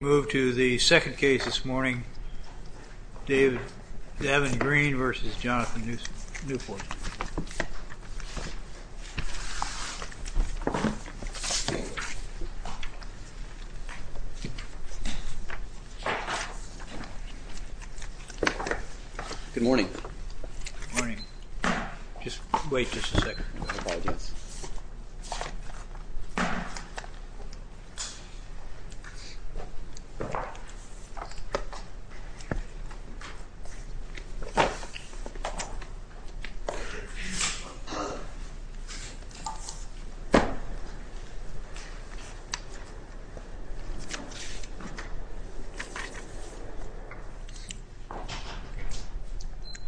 Move to the second case this morning, David Davin Green v. Jonathon Newport. Good morning. Good morning. Just wait just a second.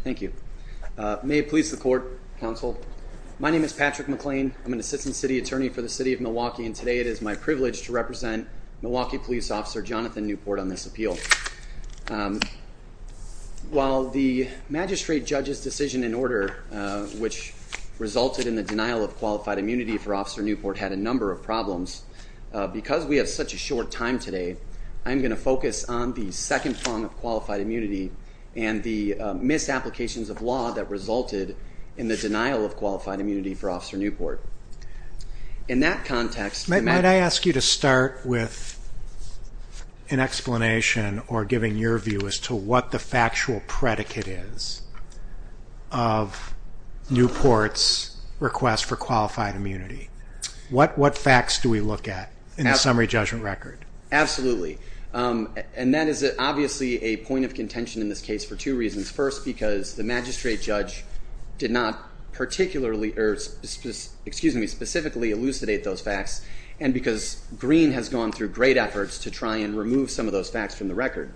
Thank you. May it please the court, counsel. My name is Patrick McLean. I'm an assistant city attorney for the city of Milwaukee and today it is my privilege to represent Milwaukee Police Officer Jonathon Newport on this appeal. While the magistrate judge's decision and order which resulted in the denial of qualified immunity for Officer Newport had a number of problems, because we have such a short time today, I'm going to focus on the second prong of qualified immunity and the misapplications of law that resulted in the denial of qualified in explanation or giving your view as to what the factual predicate is of Newport's request for qualified immunity. What facts do we look at in the summary judgment record? Absolutely. And that is obviously a point of contention in this case for two reasons. First because the magistrate judge did not particularly, excuse me, specifically elucidate those facts and because Green has gone through great efforts to try and remove some of those facts from the record.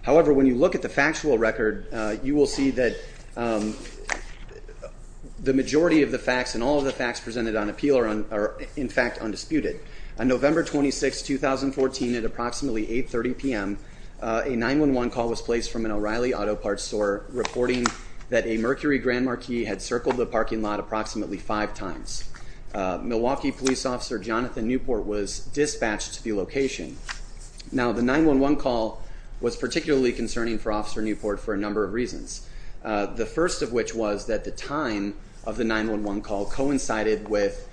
However, when you look at the factual record, you will see that the majority of the facts and all of the facts presented on appeal are in fact undisputed. On November 26, 2014, at approximately 8.30 p.m., a 911 call was placed from an O'Reilly auto parts store reporting that a Mercury Grand Marquis had circled the parking lot approximately five times. Milwaukee Police Officer Jonathan Newport was dispatched to the location. Now the 911 call was particularly concerning for Officer Newport for a number of reasons. The first of which was that the time of the 911 call coincided with,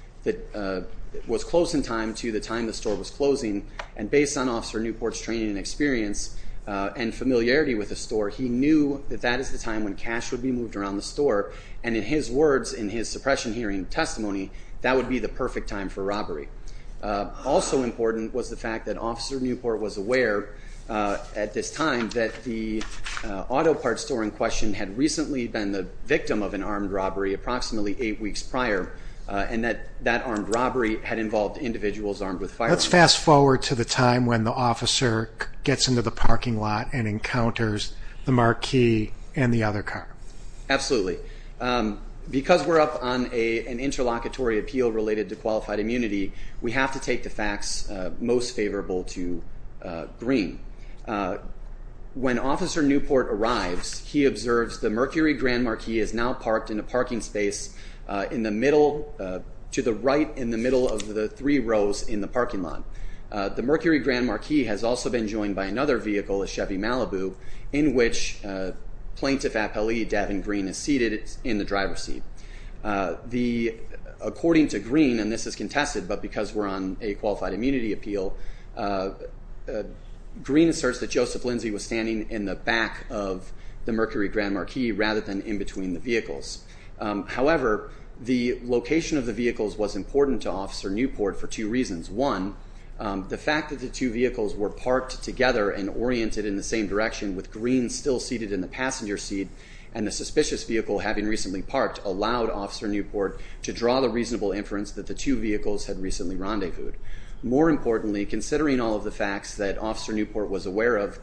was close in time to the time the store was closing and based on Officer Newport's training and experience and familiarity with the store, he knew that that is the time when cash would be moved around the store and in his words, in his suppression hearing testimony, that would be the perfect time for robbery. Also important was the fact that Officer Newport was aware at this time that the auto parts store in question had recently been the victim of an armed robbery approximately eight weeks prior and that that armed robbery had involved individuals armed with firearms. Let's fast forward to the time when the officer gets into the parking lot and encounters the Absolutely. Because we're up on an interlocutory appeal related to qualified immunity, we have to take the facts most favorable to green. When Officer Newport arrives, he observes the Mercury Grand Marquis is now parked in a parking space in the middle, to the right in the middle of the three rows in the parking lot. The Mercury Grand Marquis has also been joined by another vehicle, a Chevy Malibu, in which plaintiff appellee Devin Green is seated in the driver's seat. According to Green, and this is contested but because we're on a qualified immunity appeal, Green asserts that Joseph Lindsay was standing in the back of the Mercury Grand Marquis rather than in between the vehicles. However, the location of the vehicles was important to Officer Newport for two reasons. One, the fact that the two vehicles were parked together and oriented in the same direction with Green still seated in the passenger seat, and the suspicious vehicle having recently parked allowed Officer Newport to draw the reasonable inference that the two vehicles had recently rendezvoused. More importantly, considering all of the facts that Officer Newport was aware of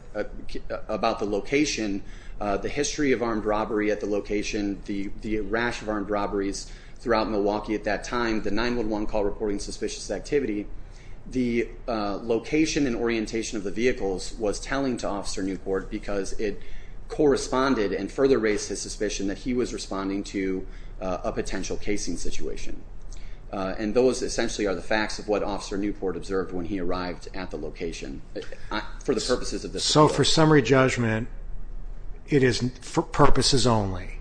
about the location, the history of armed robbery at the location, the rash of armed robberies throughout Milwaukee at that time, the 911 call reporting suspicious activity, the location and orientation of the vehicles was telling to Officer Newport because it corresponded and further raised his suspicion that he was responding to a potential casing situation. And those essentially are the facts of what Officer Newport observed when he arrived at the location. For the purposes of this... So for summary judgment, it is for purposes only.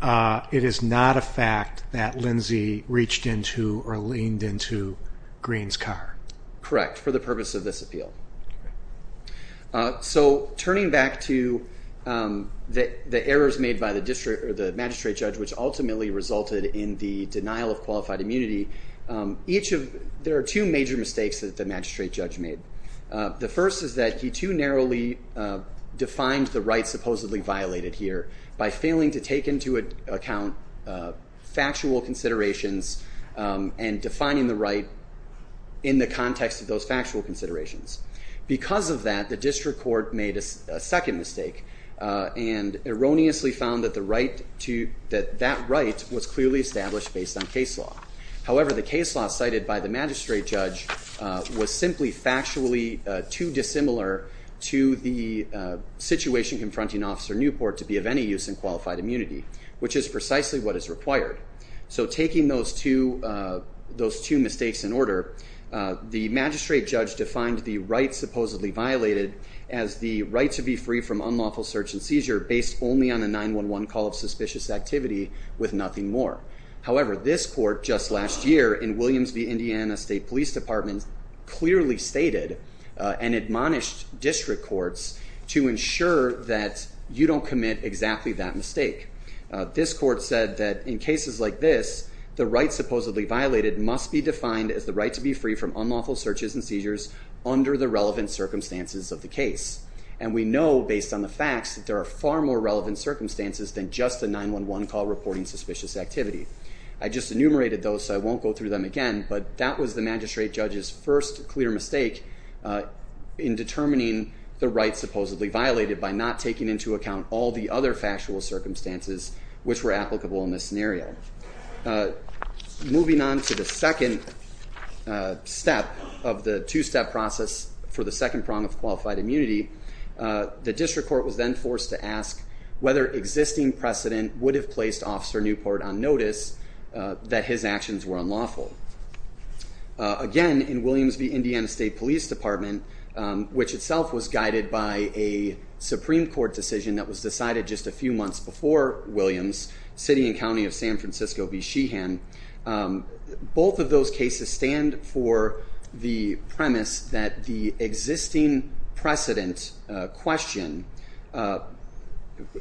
It is not a fact that Lindsay reached into or leaned into Green's car? Correct, for the purpose of this appeal. So turning back to the errors made by the magistrate judge, which ultimately resulted in the denial of qualified immunity, there are two major mistakes that the magistrate judge made. The first is that he too narrowly defined the right supposedly violated here by failing to take into account factual considerations and defining the right in the context of those factual considerations. Because of that, the district court made a second mistake and erroneously found that that right was clearly established based on case law. However, the case law cited by the magistrate judge was simply factually too dissimilar to the situation confronting Officer Newport to be of any use in qualified immunity. So taking those two mistakes in order, the magistrate judge defined the right supposedly violated as the right to be free from unlawful search and seizure based only on a 911 call of suspicious activity with nothing more. However, this court just last year in Williams v. Indiana State Police Department clearly stated and admonished district courts to ensure that you don't commit exactly that mistake. This court said that in cases like this, the right supposedly violated must be defined as the right to be free from unlawful searches and seizures under the relevant circumstances of the case. And we know based on the facts that there are far more relevant circumstances than just a 911 call reporting suspicious activity. I just enumerated those so I won't go through them again, but that was the magistrate judge's first clear mistake in determining the right supposedly violated by not taking into account all the other factual circumstances which were applicable in this scenario. Moving on to the second step of the two-step process for the second prong of qualified immunity, the district court was then forced to ask whether existing precedent would have placed Officer Newport on notice that his actions were unlawful. Again, in Williams v. Indiana State Police Department, which itself was guided by a Supreme Court decision that was decided just a few months before Williams, city and county of San Francisco v. Sheehan, both of those cases stand for the premise that the existing precedent question,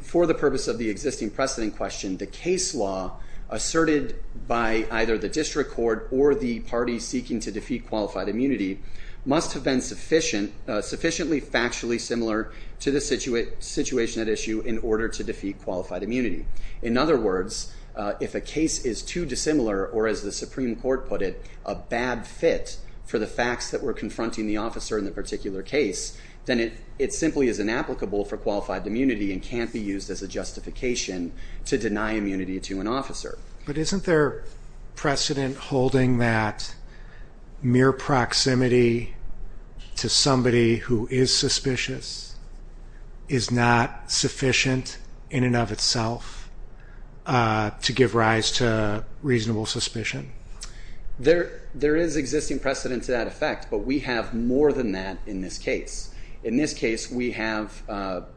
for the purpose of the existing precedent question, the case law asserted by either the district court or the parties seeking to defeat qualified immunity must have been sufficiently factually similar to the situation at issue in order to defeat qualified immunity. In other words, if a case is too dissimilar, or as the Supreme Court put it, a bad fit for the facts that were confronting the officer in the particular case, then it simply is inapplicable for qualified immunity as a justification to deny immunity to an officer. But isn't there precedent holding that mere proximity to somebody who is suspicious is not sufficient in and of itself to give rise to reasonable suspicion? There is existing precedent to that effect, but we have more than that in this case. In the context of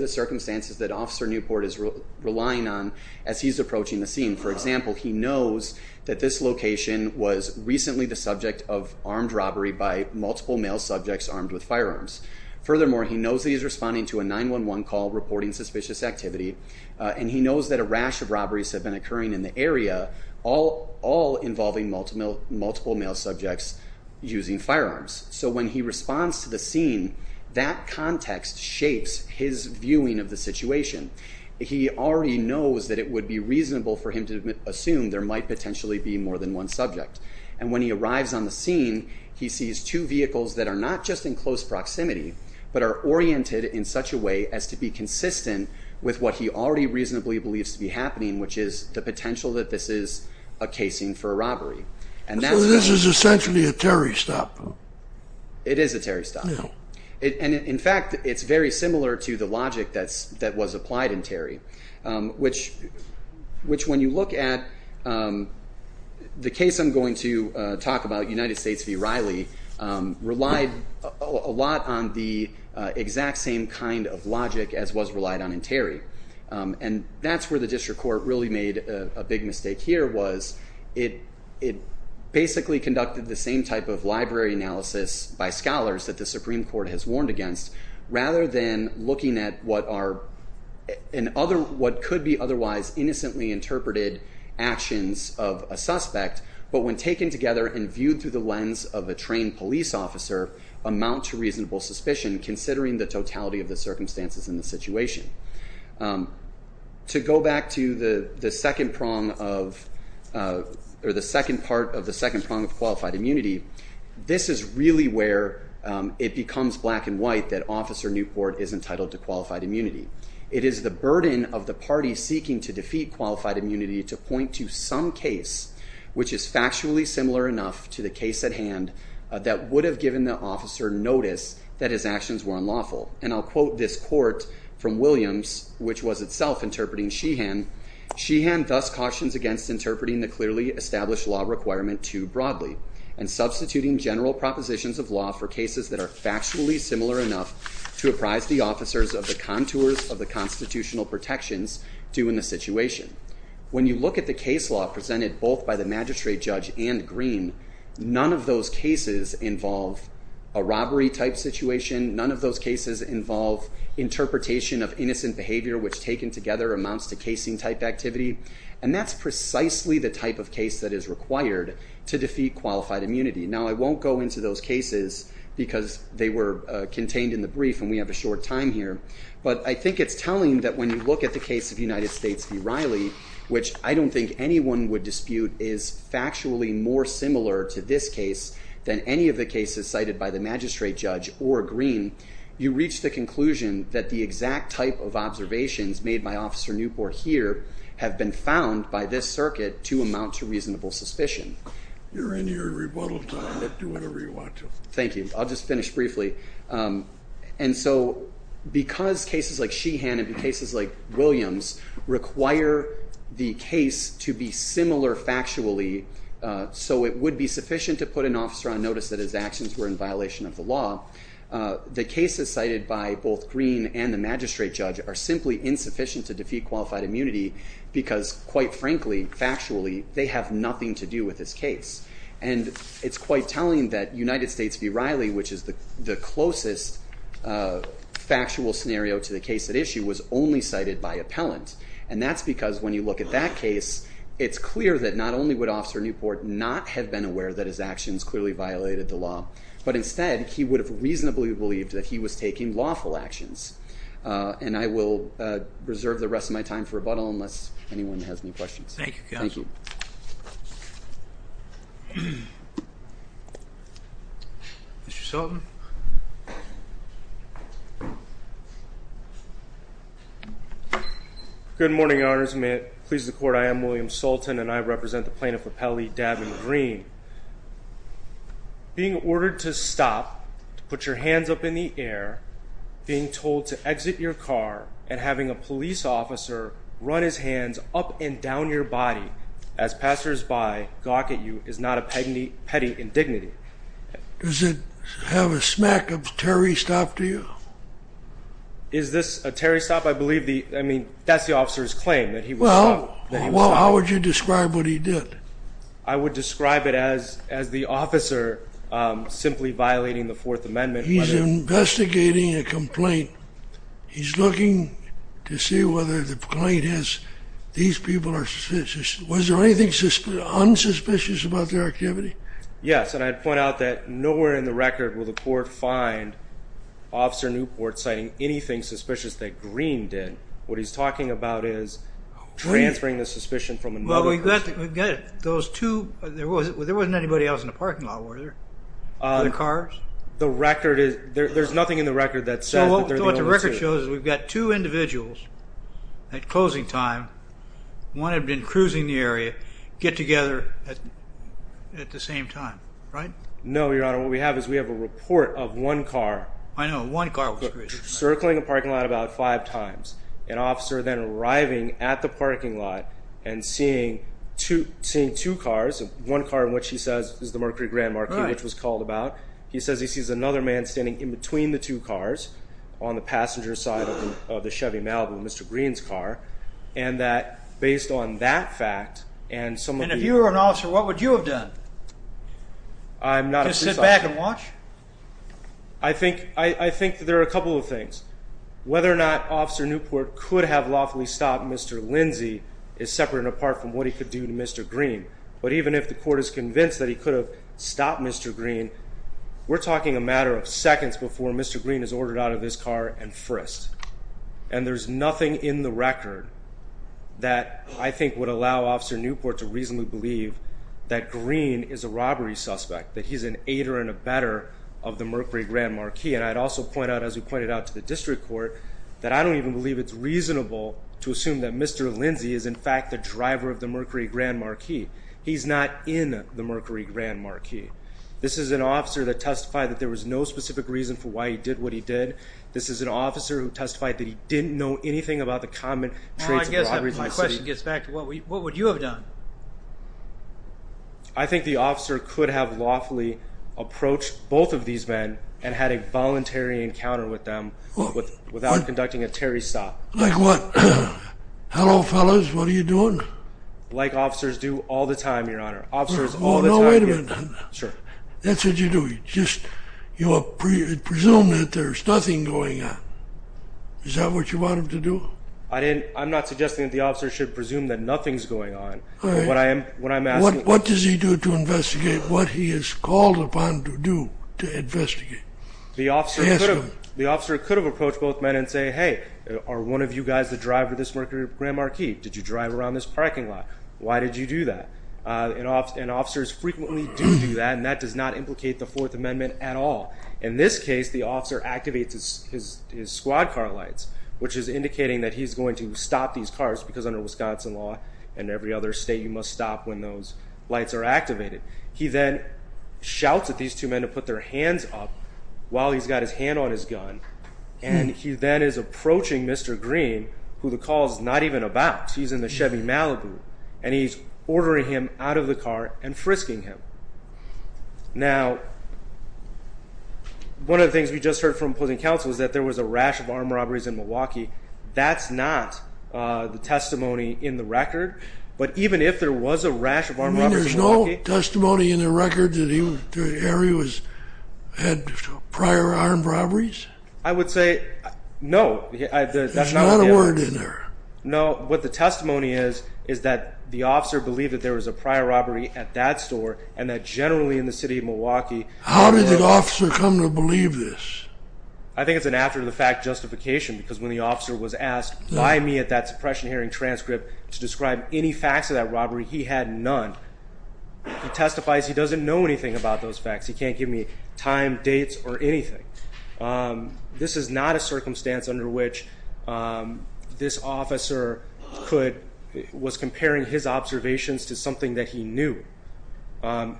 the circumstances that Officer Newport is relying on as he's approaching the scene, for example, he knows that this location was recently the subject of armed robbery by multiple male subjects armed with firearms. Furthermore, he knows that he's responding to a 911 call reporting suspicious activity, and he knows that a rash of robberies have been occurring in the area, all involving multiple male subjects using firearms. So when he responds to the scene, that context shapes his viewing of the situation. He already knows that it would be reasonable for him to assume there might potentially be more than one subject. And when he arrives on the scene, he sees two vehicles that are not just in close proximity, but are oriented in such a way as to be consistent with what he already reasonably believes to be happening, which is the potential that this is a casing for It is a Terry stop. No. And in fact, it's very similar to the logic that was applied in Terry, which when you look at the case I'm going to talk about, United States v. Riley, relied a lot on the exact same kind of logic as was relied on in Terry. And that's where the district court really made a big mistake here, was it basically conducted the same type of library analysis by scholars that the Supreme Court has warned against, rather than looking at what could be otherwise innocently interpreted actions of a suspect, but when taken together and viewed through the lens of a trained police officer, amount to reasonable suspicion, considering the totality of the circumstances in the situation. To go back to the second part of the second prong of qualified immunity, this is really where it becomes black and white that Officer Newport is entitled to qualified immunity. It is the burden of the party seeking to defeat qualified immunity to point to some case which is factually similar enough to the case at hand that would have given the officer notice that his actions were unlawful. And I'll quote this court from Williams, which was itself interpreting Sheehan, Sheehan thus cautions against interpreting the clearly established law requirement too broadly and substituting general propositions of law for cases that are factually similar enough to apprise the officers of the contours of the constitutional protections due in the situation. When you look at the case law presented both by the situation, none of those cases involve interpretation of innocent behavior, which taken together amounts to casing type activity. And that's precisely the type of case that is required to defeat qualified immunity. Now I won't go into those cases because they were contained in the brief and we have a short time here, but I think it's telling that when you look at the case of United States v. Riley, which I don't think anyone would dispute is factually more similar to this case than any of the cases cited by the magistrate judge or Green, you reach the conclusion that the exact type of observations made by officer Newport here have been found by this circuit to amount to reasonable suspicion. You're in your rebuttal time, do whatever you want to. Thank you. I'll just finish briefly. And so because cases like Sheehan and cases like Williams require the case to be similar factually, so it would be sufficient to put an officer on notice that his actions were in violation of the law. The cases cited by both Green and the magistrate judge are simply insufficient to defeat qualified immunity because quite frankly, factually, they have nothing to do with this case. And it's quite telling that United States v. Riley, which is the closest factual scenario to the case at issue, was only cited by appellant. And that's because when you look at that case, it's clear that not only would officer Newport not have been aware that his actions clearly violated the law, but instead he would have reasonably believed that he was taking lawful actions. And I will reserve the rest of my time for rebuttal unless anyone has any questions. Thank you, counsel. Mr. Sultan. Good morning, Your Honors. May it please the court, I am William Sultan, and I represent the plaintiff of Pele, Davin Green. Being ordered to stop, to put your hands up in the air, being told to exit your car, and having a police officer run his hands up and down your body as passersby gawk at you is not a petty indignity. Does it have a smack of a Terry stop to you? Is this a Terry stop? I believe the, I mean, that's the officer's claim that he was stopped. Well, how would you describe what he did? I would describe it as the officer simply violating the Fourth Amendment. He's investigating a complaint. He's looking to see whether the complaint has, these people are suspicious. Was there anything unsuspicious about their activity? Yes, and I'd point out that nowhere in the record will the court find Officer Newport citing anything suspicious that Green did. What he's talking about is transferring the suspicion from another person. Well, we've got those two, there wasn't anybody else in the parking lot, were there? Other cars? The record is, there's nothing in the record that says that they're the only two. No, what the record shows is we've got two individuals at closing time, one had been cruising the area, get together at the same time, right? No, Your Honor, what we have is we have a report of one car. I know, one car was cruising. Circling a parking lot about five times, an officer then arriving at the parking lot and seeing two cars, one car in which he says is the Mercury Grand Marquis, which was called about, he says he sees another man standing in between the two cars on the passenger side of the Chevy Malibu, Mr. Green's car, and that based on that fact and some of the... And if you were an officer, what would you have done? I'm not a police officer. Just sit back and watch? I think there are a couple of things. Whether or not Officer Newport could have lawfully stopped Mr. Lindsey is separate and apart from what he could do to Mr. Green. But even if the court is convinced that he could have stopped Mr. Green, we're talking a matter of seconds before Mr. Green is ordered out of his car and frisked. And there's nothing in the record that I think would allow Officer Newport to reasonably believe that Green is a robbery suspect, that he's an aider and a better of the Mercury Grand Marquis. And I'd also point out, as we pointed out to the district court, that I don't even believe it's reasonable to assume that Mr. Lindsey is in fact the driver of the Mercury Grand Marquis. He's not in the Mercury Grand Marquis. This is an officer that testified that there was no specific reason for why he did what he did. This is an officer who testified that he didn't know anything about the common traits of robberies in the city. My question gets back to what would you have done? I think the officer could have lawfully approached both of these men and had a voluntary encounter with them without conducting a Terry stop. Like what? Hello, fellas. What are you doing? Like officers do all the time, Your Honor. Officers all the time... Oh, no, wait a minute. Sir. That's what you do. You just... You presume that there's nothing going on. Is that what you want him to do? I didn't... I'm not suggesting that the officer should presume that nothing's going on. All right. What I'm asking... What does he do to investigate what he is called upon to do to investigate? The officer could have... Ask him. The officer could have approached both men and say, hey, are one of you guys the driver of this Mercury Grand Marquis? Did you drive around this parking lot? Why did you do that? And officers frequently do do that, and that does not implicate the Fourth Amendment at all. In this case, the officer activates his squad car lights, which is indicating that he's going to stop these cars because under Wisconsin law and every other state, you must stop when those lights are activated. He then shouts at these two men to put their hands up while he's got his hand on his gun, and he then is approaching Mr. Green, who the call's not even about. He's in the Chevy Malibu, and he's ordering him out of the car and frisking him. Now, one of the things we just heard from opposing counsel is that there was a rash of armed robberies in Milwaukee. That's not the testimony in the record, but even if there was a rash of armed robberies in Milwaukee... I would say no. There's not a word in there. No. What the testimony is is that the officer believed that there was a prior robbery at that store, and that generally in the city of Milwaukee... How did the officer come to believe this? I think it's an after-the-fact justification, because when the officer was asked by me at that suppression hearing transcript to describe any facts of that robbery, he had none. He testifies he doesn't know anything about those facts. He can't give me time, dates, or anything. This is not a circumstance under which this officer was comparing his observations to something that he knew.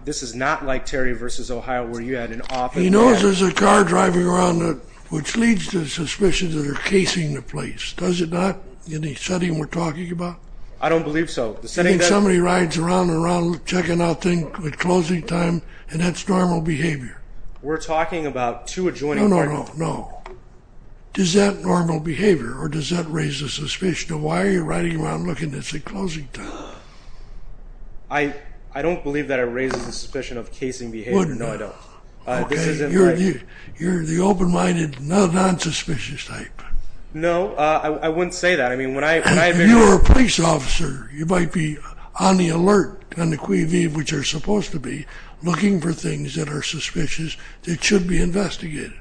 This is not like Terry v. Ohio, where you had an officer... He knows there's a car driving around, which leads to suspicions that are casing the place. Does it not? In the setting we're talking about? I don't believe so. You mean somebody rides around and around checking out things at closing time, and that's normal behavior? We're talking about two adjoining... No, no, no, no. Does that normal behavior, or does that raise a suspicion of why are you riding around looking at this at closing time? I don't believe that it raises a suspicion of casing behavior. No, I don't. Okay, you're the open-minded, non-suspicious type. No, I wouldn't say that. If you were a police officer, you might be on the alert, on the Cui Vive, which you're supposed to be, looking for things that are suspicious that should be investigated,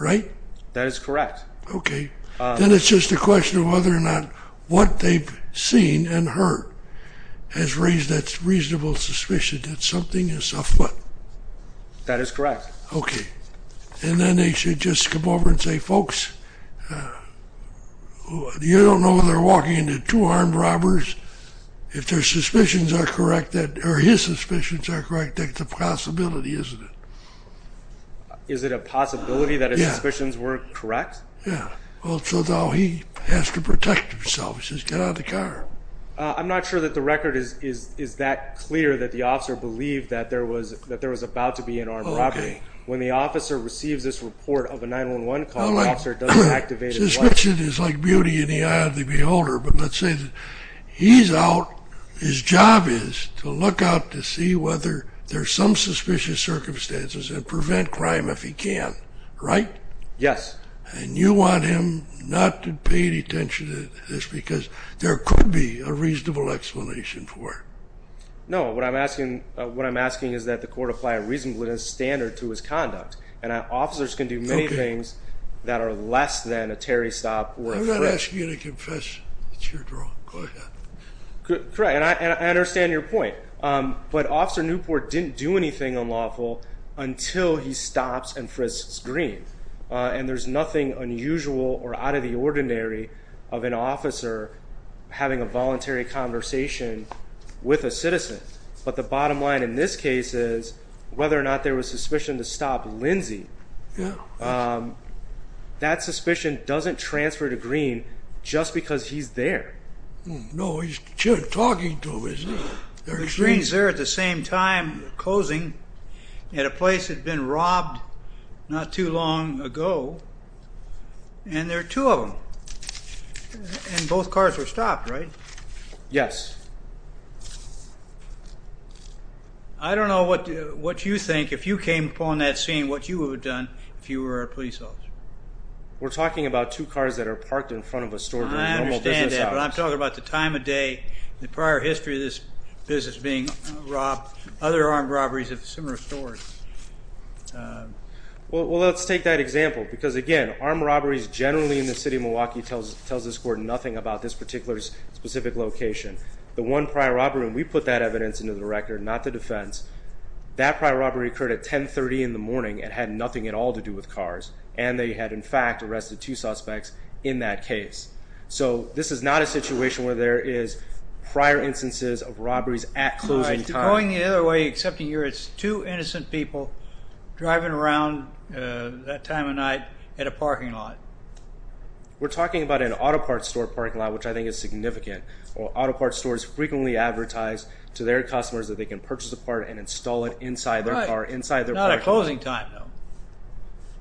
right? That is correct. Okay. Then it's just a question of whether or not what they've seen and heard has raised that reasonable suspicion that something is afoot. That is correct. Okay. And then they should just come over and say, Folks, you don't know whether they're walking into two armed robbers. If their suspicions are correct, or his suspicions are correct, that's a possibility, isn't it? Is it a possibility that his suspicions were correct? Yeah. Well, so now he has to protect himself. He says, Get out of the car. I'm not sure that the record is that clear that the officer believed that there was about to be an armed robbery. Okay. When the officer receives this report of a 911 call, the officer doesn't activate his lights. Suspicion is like beauty in the eye of the beholder. But let's say that he's out, his job is to look out to see whether there's some suspicious circumstances and prevent crime if he can, right? Yes. And you want him not to pay any attention to this because there could be a reasonable explanation for it. No. What I'm asking is that the court apply a reasonableness standard to his conduct. And officers can do many things that are less than a Terry stop or a frisk. I'm not asking you to confess. It's your draw. Go ahead. Correct. And I understand your point. But Officer Newport didn't do anything unlawful until he stops and frisks Green. And there's nothing unusual or out of the ordinary of an officer having a voluntary conversation with a citizen. But the bottom line in this case is whether or not there was suspicion to stop Lindsey, that suspicion doesn't transfer to Green just because he's there. No, he's talking to him. Green is there at the same time closing at a place that had been robbed not too long ago. And there are two of them. And both cars were stopped, right? Yes. I don't know what you think, if you came upon that scene, what you would have done if you were a police officer. We're talking about two cars that are parked in front of a store. I understand that. But I'm talking about the time of day, the prior history of this business being robbed. Other armed robberies have similar stories. Well, let's take that example. Because, again, armed robberies generally in the city of Milwaukee tells this court nothing about this particular specific location. The one prior robbery, and we put that evidence into the record, not the defense, that prior robbery occurred at 1030 in the morning and had nothing at all to do with cars. And they had, in fact, arrested two suspects in that case. So this is not a situation where there is prior instances of robberies at closing time. Right. Going the other way, except here it's two innocent people driving around that time of night at a parking lot. We're talking about an auto parts store parking lot, which I think is significant. Auto parts stores frequently advertise to their customers that they can purchase a part and install it inside their car, inside their parking lot. Right. Not at closing time, though.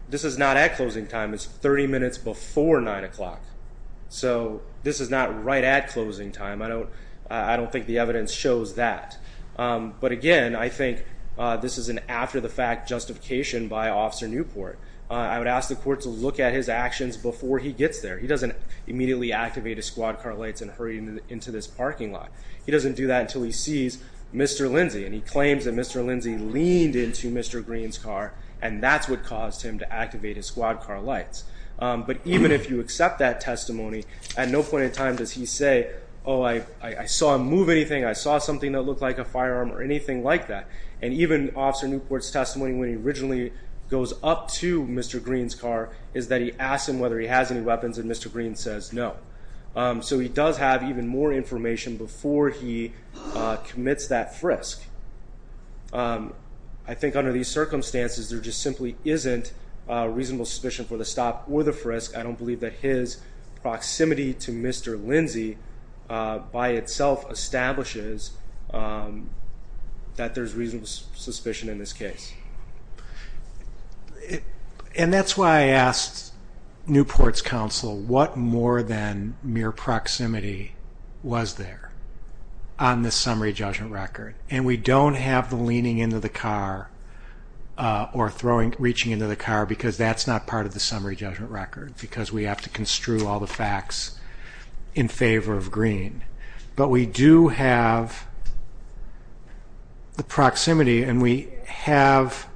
This is not at closing time. It's 30 minutes before 9 o'clock. So this is not right at closing time. I don't think the evidence shows that. But, again, I think this is an after-the-fact justification by Officer Newport. I would ask the court to look at his actions before he gets there. He doesn't immediately activate his squad car lights and hurry into this parking lot. He doesn't do that until he sees Mr. Lindsey, and he claims that Mr. Lindsey leaned into Mr. Green's car, and that's what caused him to activate his squad car lights. But even if you accept that testimony, at no point in time does he say, oh, I saw him move anything, I saw something that looked like a firearm or anything like that. And even Officer Newport's testimony, when he originally goes up to Mr. Green's car, is that he asks him whether he has any weapons, and Mr. Green says no. So he does have even more information before he commits that frisk. I think under these circumstances, there just simply isn't reasonable suspicion for the stop or the frisk. I don't believe that his proximity to Mr. Lindsey by itself establishes that there's reasonable suspicion in this case. And that's why I asked Newport's counsel what more than mere proximity was there on this summary judgment record. And we don't have the leaning into the car or reaching into the car, because that's not part of the summary judgment record, because we have to construe all the facts in favor of Green. But we do have the proximity, and we have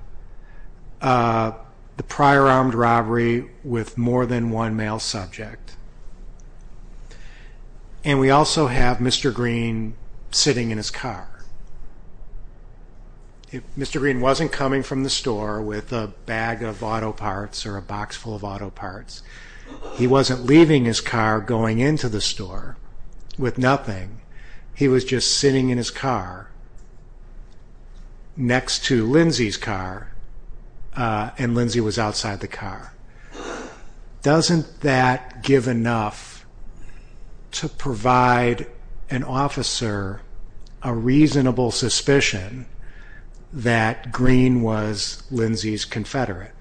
the prior armed robbery with more than one male subject. And we also have Mr. Green sitting in his car. Mr. Green wasn't coming from the store with a bag of auto parts or a box full of auto parts. He wasn't leaving his car going into the store with nothing. He was just sitting in his car next to Lindsey's car, and Lindsey was outside the car. Doesn't that give enough to provide an officer a reasonable suspicion that Green was Lindsey's confederate?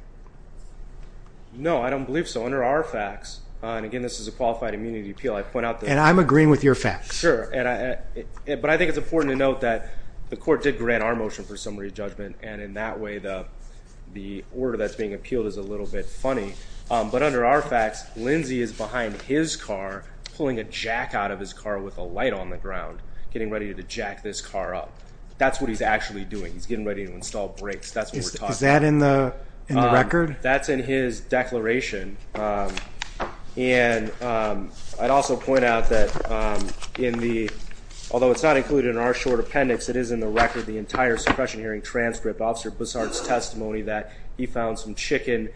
No, I don't believe so. Under our facts, and again, this is a qualified immunity appeal, I point out that... And I'm agreeing with your facts. Sure. But I think it's important to note that the court did grant our motion for summary judgment, and in that way the order that's being appealed is a little bit funny. But under our facts, Lindsey is behind his car pulling a jack out of his car with a light on the ground, getting ready to jack this car up. That's what he's actually doing. He's getting ready to install brakes. That's what we're talking about. Is that in the record? That's in his declaration. And I'd also point out that, although it's not included in our short appendix, it is in the record, the entire suppression hearing transcript, Officer Bussard's testimony that he found some chicken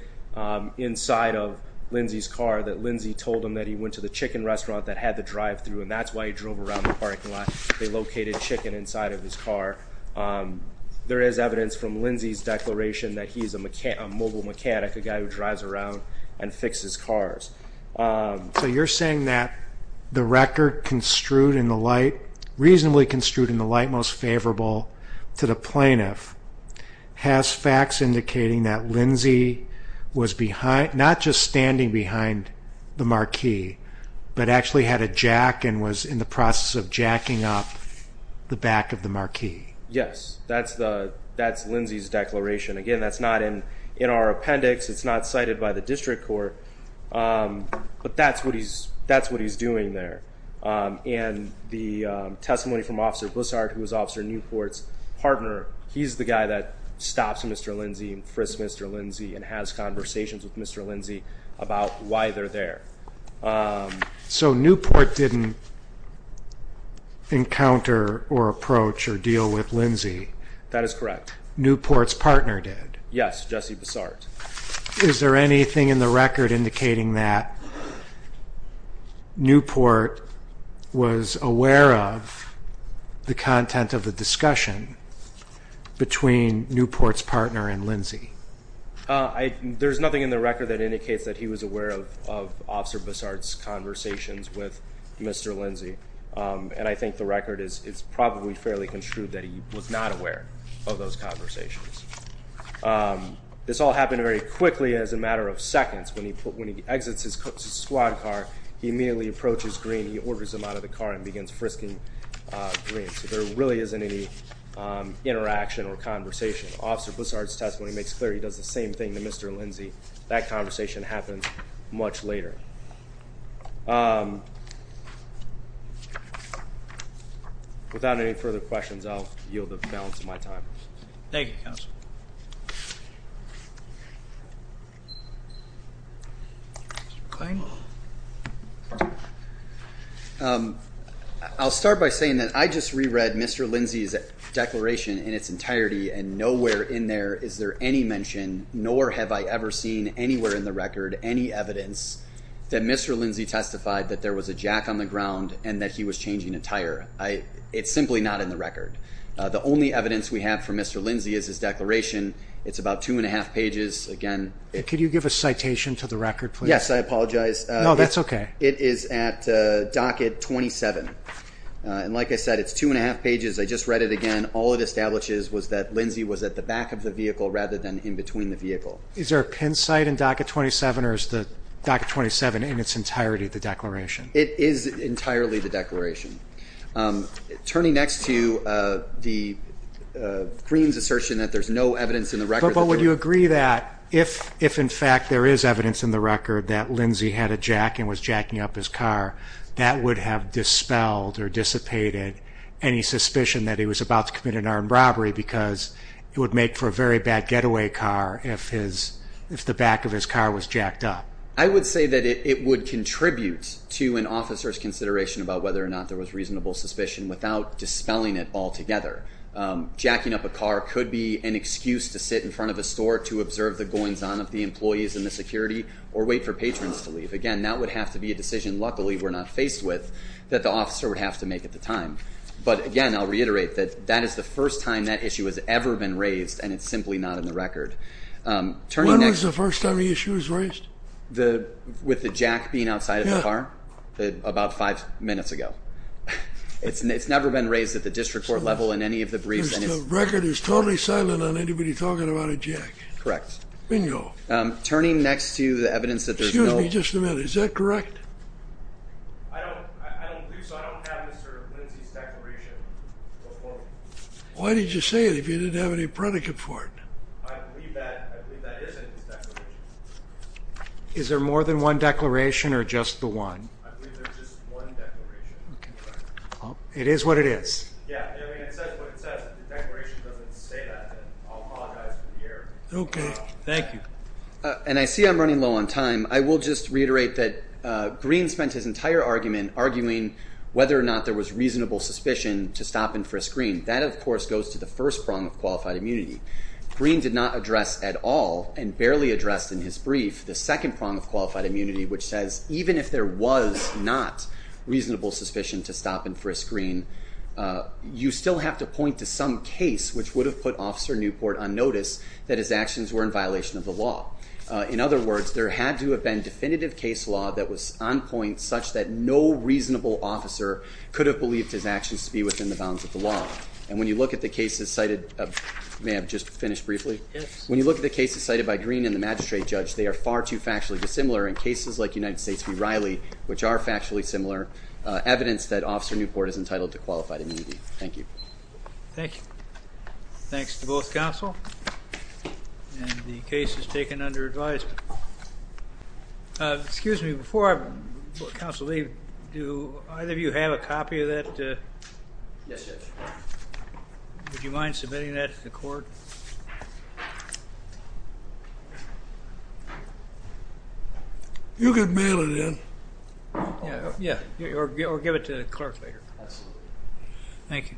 inside of Lindsey's car, that Lindsey told him that he went to the chicken restaurant that had the drive-thru, and that's why he drove around the parking lot. They located chicken inside of his car. There is evidence from Lindsey's declaration that he's a mobile mechanic, a guy who drives around and fixes cars. So you're saying that the record reasonably construed in the light most favorable to the plaintiff has facts indicating that Lindsey was not just standing behind the marquee, but actually had a jack and was in the process of jacking up the back of the marquee. Yes. That's Lindsey's declaration. Again, that's not in our appendix. It's not cited by the district court. But that's what he's doing there. And the testimony from Officer Bussard, who was Officer Newport's partner, he's the guy that stops Mr. Lindsey and frisks Mr. Lindsey and has conversations with Mr. Lindsey about why they're there. So Newport didn't encounter or approach or deal with Lindsey? That is correct. Newport's partner did? Yes, Jesse Bussard. Is there anything in the record indicating that Newport was aware of the content of the discussion between Newport's partner and Lindsey? There's nothing in the record that indicates that he was aware of Officer Bussard's conversations with Mr. Lindsey. And I think the record is it's probably fairly construed that he was not aware of those conversations. This all happened very quickly as a matter of seconds. When he exits his squad car, he immediately approaches Green. He orders him out of the car and begins frisking Green. So there really isn't any interaction or conversation. Officer Bussard's testimony makes clear he does the same thing to Mr. Lindsey. That conversation happens much later. Without any further questions, I'll yield the balance of my time. Thank you, Counselor. I'll start by saying that I just reread Mr. Lindsey's declaration in its entirety, and nowhere in there is there any mention, nor have I ever seen anywhere in the record, any evidence that Mr. Lindsey testified that there was a jack on the ground and that he was changing a tire. It's simply not in the record. The only evidence we have for Mr. Lindsey is his declaration. It's about two and a half pages. Could you give a citation to the record, please? Yes, I apologize. No, that's okay. It is at docket 27. And like I said, it's two and a half pages. I just read it again. All it establishes was that Lindsey was at the back of the vehicle rather than in between the vehicle. Is there a pin site in docket 27, or is the docket 27 in its entirety the declaration? It is entirely the declaration. Turning next to the Green's assertion that there's no evidence in the record. But would you agree that if, in fact, there is evidence in the record that Lindsey had a jack and was jacking up his car, that would have dispelled or dissipated any suspicion that he was about to commit an armed robbery because it would make for a very bad getaway car if the back of his car was jacked up? I would say that it would contribute to an officer's consideration about whether or not there was reasonable suspicion without dispelling it altogether. Jacking up a car could be an excuse to sit in front of a store to observe the goings-on of the employees and the security or wait for patrons to leave. Again, that would have to be a decision, luckily, we're not faced with, that the officer would have to make at the time. But again, I'll reiterate that that is the first time that issue has ever been raised, and it's simply not in the record. When was the first time the issue was raised? With the jack being outside of the car? Yeah. About five minutes ago. It's never been raised at the district court level in any of the briefs. The record is totally silent on anybody talking about a jack. Correct. Bingo. Turning next to the evidence that there's no ---- Excuse me just a minute. Is that correct? I don't believe so. I don't have Mr. Lindsay's declaration. Why did you say it if you didn't have any predicate for it? I believe that isn't his declaration. Is there more than one declaration or just the one? I believe there's just one declaration. It is what it is. Yeah, I mean, it says what it says. The declaration doesn't say that. I'll apologize for the error. Okay. Thank you. And I see I'm running low on time. I will just reiterate that Green spent his entire argument arguing whether or not there was reasonable suspicion to stop and frisk Green. That, of course, goes to the first prong of qualified immunity. Green did not address at all and barely addressed in his brief the second prong of qualified immunity, which says even if there was not reasonable suspicion to stop and frisk Green, you still have to point to some case which would have put Officer Newport on notice that his actions were in violation of the law. In other words, there had to have been definitive case law that was on point such that no reasonable officer could have believed his actions to be within the bounds of the law. And when you look at the cases cited by Green and the magistrate judge, they are far too factually dissimilar. In cases like United States v. Riley, which are factually similar, evidence that Officer Newport is entitled to qualified immunity. Thank you. Thank you. Thanks to both counsel. And the case is taken under advisement. Excuse me. Before I let counsel leave, do either of you have a copy of that? Yes, Judge. Would you mind submitting that to the court? You can mail it in. Yeah. Or give it to the clerk later. Thank you.